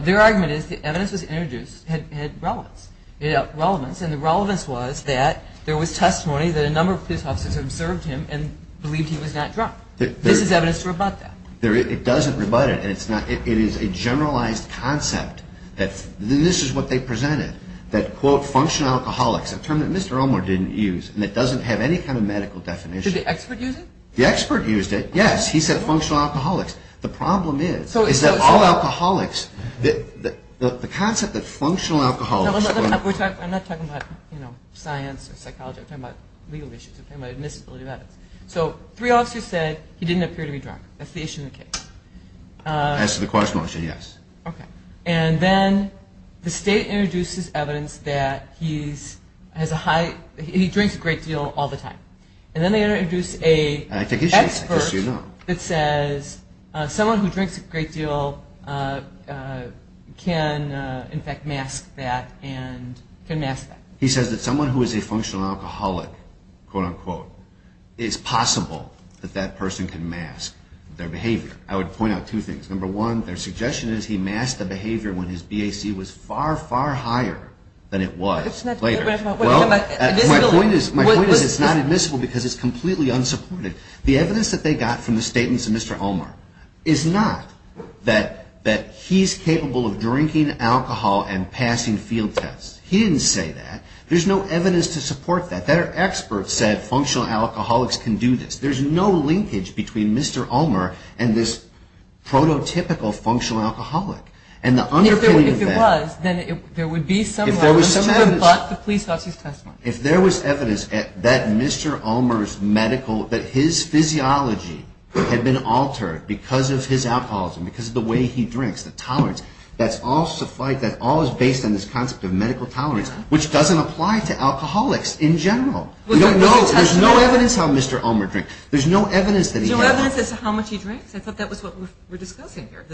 Their argument is the evidence that was introduced had relevance, and the relevance was that there was testimony that a number of police officers observed him and believed he was not drunk. This is evidence to rebut that. It doesn't rebut it, and it is a generalized concept. This is what they presented, that, quote, functional alcoholics, a term that Mr. Elmore didn't use, and it doesn't have any kind of medical definition. Did the expert use it? The expert used it, yes. He said functional alcoholics. The problem is that all alcoholics, the concept that functional alcoholics. I'm not talking about science or psychology. I'm talking about legal issues. I'm talking about admissibility of evidence. So three officers said he didn't appear to be drunk. That's the issue in the case. As to the question, I'll say yes. Okay. And then the state introduces evidence that he drinks a great deal all the time, and then they introduce an expert that says someone who drinks a great deal can, in fact, mask that and can mask that. He says that someone who is a functional alcoholic, quote, unquote, is possible that that person can mask their behavior. I would point out two things. Number one, their suggestion is he masked the behavior when his BAC was far, far higher than it was later. Well, my point is it's not admissible because it's completely unsupported. The evidence that they got from the statements of Mr. Elmore is not that he's capable of drinking alcohol and passing field tests. He didn't say that. There's no evidence to support that. Their expert said functional alcoholics can do this. There's no linkage between Mr. Elmore and this prototypical functional alcoholic. And the underpinning of that — If it was, then there would be some evidence, but the police lost his testimony. If there was evidence that Mr. Elmore's medical — that his physiology had been altered because of his alcoholism, because of the way he drinks, the tolerance, that's all based on this concept of medical tolerance, which doesn't apply to alcoholics in general. There's no evidence how Mr. Elmore drinks. There's no evidence that he — There's no evidence as to how much he drinks? I thought that was what we were discussing here.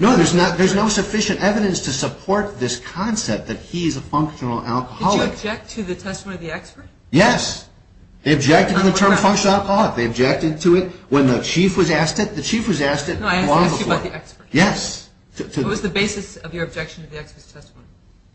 No, there's no sufficient evidence to support this concept that he's a functional alcoholic. Did you object to the testimony of the expert? Yes. They objected to the term functional alcoholic. They objected to it when the chief was asked it. The chief was asked it long before. Yes. What was the basis of your objection to the expert's testimony?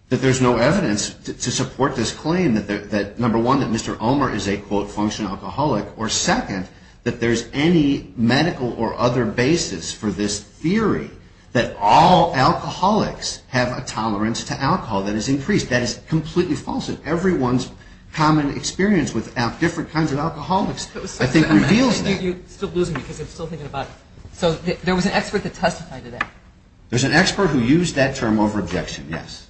That there's no evidence to support this claim that, number one, that Mr. Elmore is a, quote, functional alcoholic, or, second, that there's any medical or other basis for this theory that all alcoholics have a tolerance to alcohol that is increased. That is completely false, and everyone's common experience with different kinds of alcoholics, I think, reveals that. You're still losing me because I'm still thinking about it. So there was an expert that testified to that? There's an expert who used that term over objection, yes.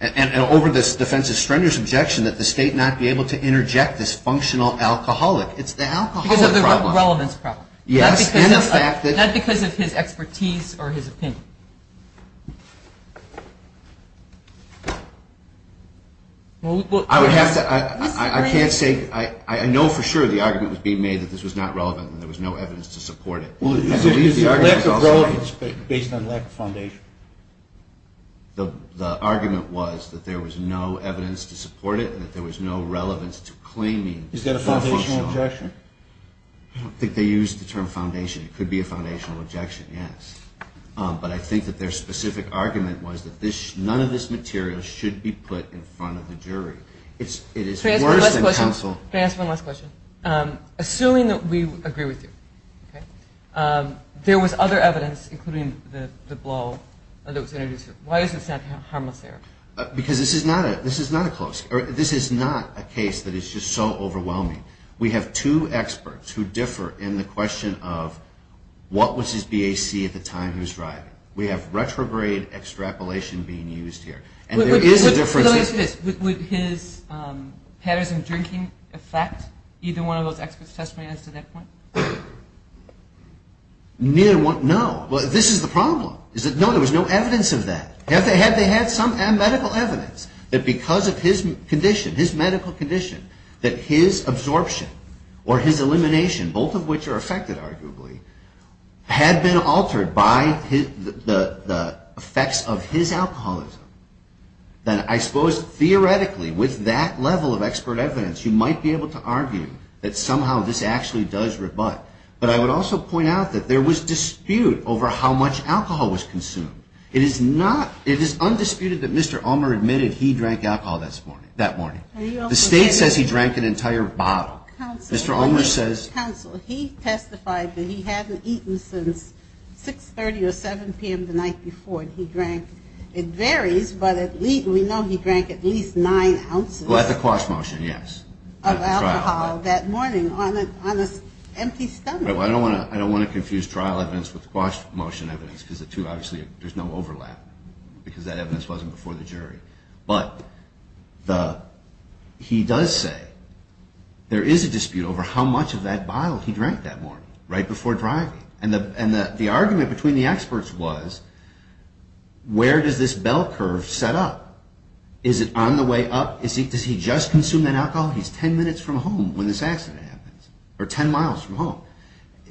And over this defense's strenuous objection that the state not be able to interject this functional alcoholic. It's the alcoholic problem. Because of the relevance problem. Yes, and the fact that... Not because of his expertise or his opinion. I would have to... I can't say... I know for sure the argument was being made that this was not relevant and there was no evidence to support it. Lack of relevance based on lack of foundation. The argument was that there was no evidence to support it and that there was no relevance to claiming... Is that a foundational objection? I don't think they used the term foundation. It could be a foundational objection, yes. But I think that their specific argument was that none of this material should be put in front of the jury. It is worse than counsel... Can I ask one last question? Assuming that we agree with you. There was other evidence, including the blow that was introduced. Why does it sound harmless there? Because this is not a close... This is not a case that is just so overwhelming. We have two experts who differ in the question of what was his BAC at the time he was driving. We have retrograde extrapolation being used here. And there is a difference... For those of us... Would his patterns in drinking affect either one of those experts' testimonies to that point? No. This is the problem. No, there was no evidence of that. Had they had some medical evidence that because of his condition, his medical condition, that his absorption or his elimination, both of which are affected arguably, had been altered by the effects of his alcoholism, then I suppose theoretically with that level of expert evidence you might be able to argue that somehow this actually does rebut. But I would also point out that there was dispute over how much alcohol was consumed. It is not... It is undisputed that Mr. Ulmer admitted he drank alcohol that morning. The state says he drank an entire bottle. Mr. Ulmer says... Counsel, he testified that he hadn't eaten since 6.30 or 7.00 p.m. the night before he drank. It varies, but we know he drank at least nine ounces... At the quash motion, yes. ...of alcohol that morning on an empty stomach. I don't want to confuse trial evidence with quash motion evidence because the two obviously, there's no overlap because that evidence wasn't before the jury. But he does say there is a dispute over how much of that bottle he drank that morning right before driving. And the argument between the experts was where does this bell curve set up? Is it on the way up? Does he just consume that alcohol? He's ten minutes from home when this accident happens, or ten miles from home.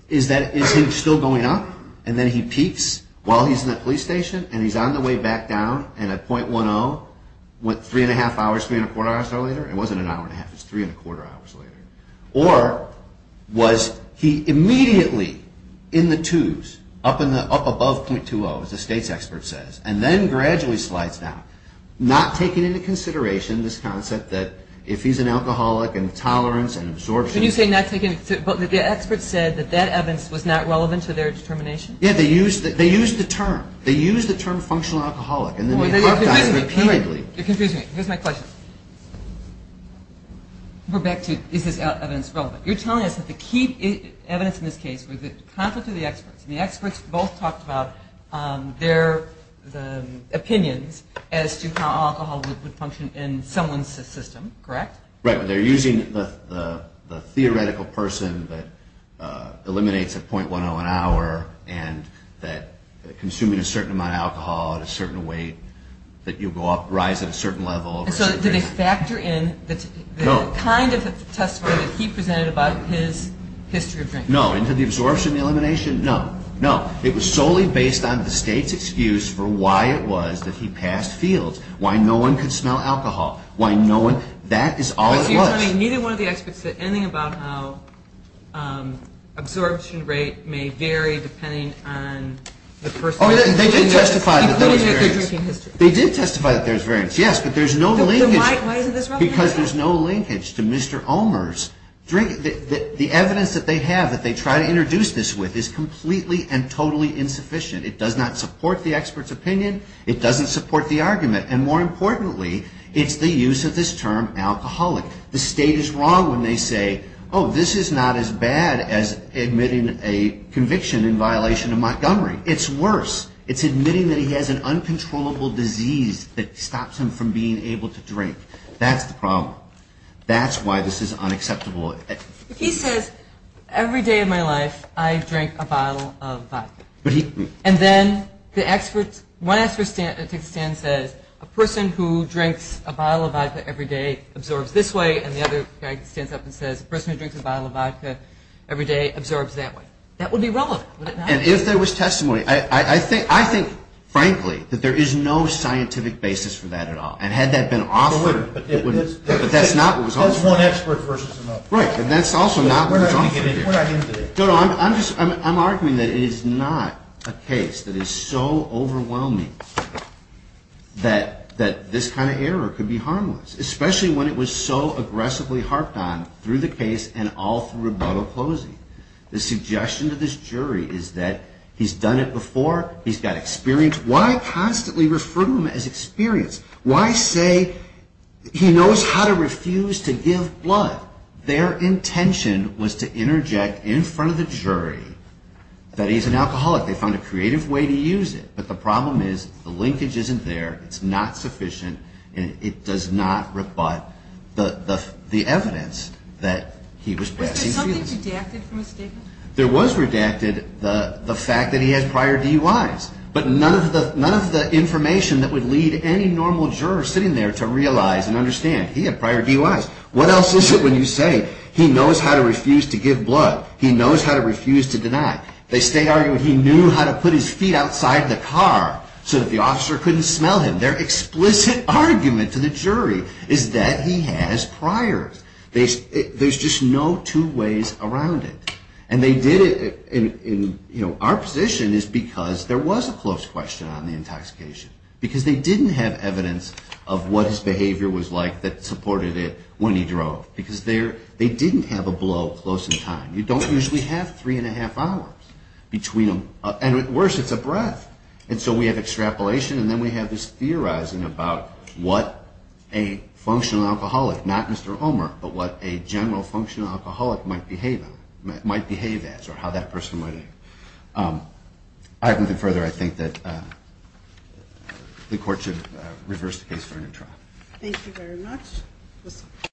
Is he still going up? And then he peaks while he's in that police station and he's on the way back down and at .10, what, three and a half hours, three and a quarter hours later? It wasn't an hour and a half. It was three and a quarter hours later. Or was he immediately in the twos, up above .20, as the state's expert says, and then gradually slides down, not taking into consideration this concept that if he's an alcoholic and tolerance and absorption. Can you say not taking into, but the experts said that that evidence was not relevant to their determination? Yeah, they used the term. They used the term functional alcoholic. Oh, you're confusing me. You're confusing me. Here's my question. We're back to is this evidence relevant? You're telling us that the key evidence in this case was the conflict of the experts, and the experts both talked about their opinions as to how alcohol would function in someone's system, correct? Right. They're using the theoretical person that eliminates at .10 an hour and that consuming a certain amount of alcohol at a certain weight that you go up, rise at a certain level. So did they factor in the kind of testimony that he presented about his history of drinking? No. Into the absorption and elimination? No. No. It was solely based on the state's excuse for why it was that he passed fields, why no one could smell alcohol. Why no one. That is all it was. So you're telling me neither one of the experts said anything about how absorption rate may vary depending on the person? Oh, they did testify that there was variance. Including if they're drinking history. They did testify that there was variance, yes, but there's no linkage. So why isn't this relevant? Because there's no linkage to Mr. Omer's drink. The evidence that they have that they try to introduce this with is completely and totally insufficient. It does not support the expert's opinion. It doesn't support the argument. And more importantly, it's the use of this term alcoholic. The state is wrong when they say, oh, this is not as bad as admitting a conviction in violation of Montgomery. It's worse. It's admitting that he has an uncontrollable disease that stops him from being able to drink. That's the problem. That's why this is unacceptable. He says, every day of my life I drank a bottle of vodka. And then one expert takes a stand and says, a person who drinks a bottle of vodka every day absorbs this way, and the other guy stands up and says, a person who drinks a bottle of vodka every day absorbs that way. That would be relevant, would it not? And if there was testimony, I think, frankly, that there is no scientific basis for that at all. And had that been offered, it wouldn't. But that's not what was offered. That's one expert versus another. Right, and that's also not what was offered. I'm arguing that it is not a case that is so overwhelming that this kind of error could be harmless, especially when it was so aggressively harped on through the case and all through rebuttal closing. The suggestion to this jury is that he's done it before, he's got experience. Why constantly refer to him as experienced? Why say he knows how to refuse to give blood? Their intention was to interject in front of the jury that he's an alcoholic. They found a creative way to use it. But the problem is the linkage isn't there. It's not sufficient, and it does not rebut the evidence that he was passing through. Was there something redacted from his statement? There was redacted the fact that he had prior DUIs. But none of the information that would lead any normal juror sitting there to realize and understand. He had prior DUIs. What else is it when you say he knows how to refuse to give blood? He knows how to refuse to deny? They stay arguing he knew how to put his feet outside the car so that the officer couldn't smell him. Their explicit argument to the jury is that he has priors. There's just no two ways around it. And they did it in, you know, our position is because there was a close question on the intoxication. Because they didn't have evidence of what his behavior was like that supported it when he drove. Because they didn't have a blow close in time. You don't usually have three and a half hours between them. And worse, it's a breath. And so we have extrapolation, and then we have this theorizing about what a functional alcoholic, not Mr. Homer, but what a general functional alcoholic might behave as or how that person might act. All right, without further, I think that the court should reverse the case for a new trial. Thank you very much.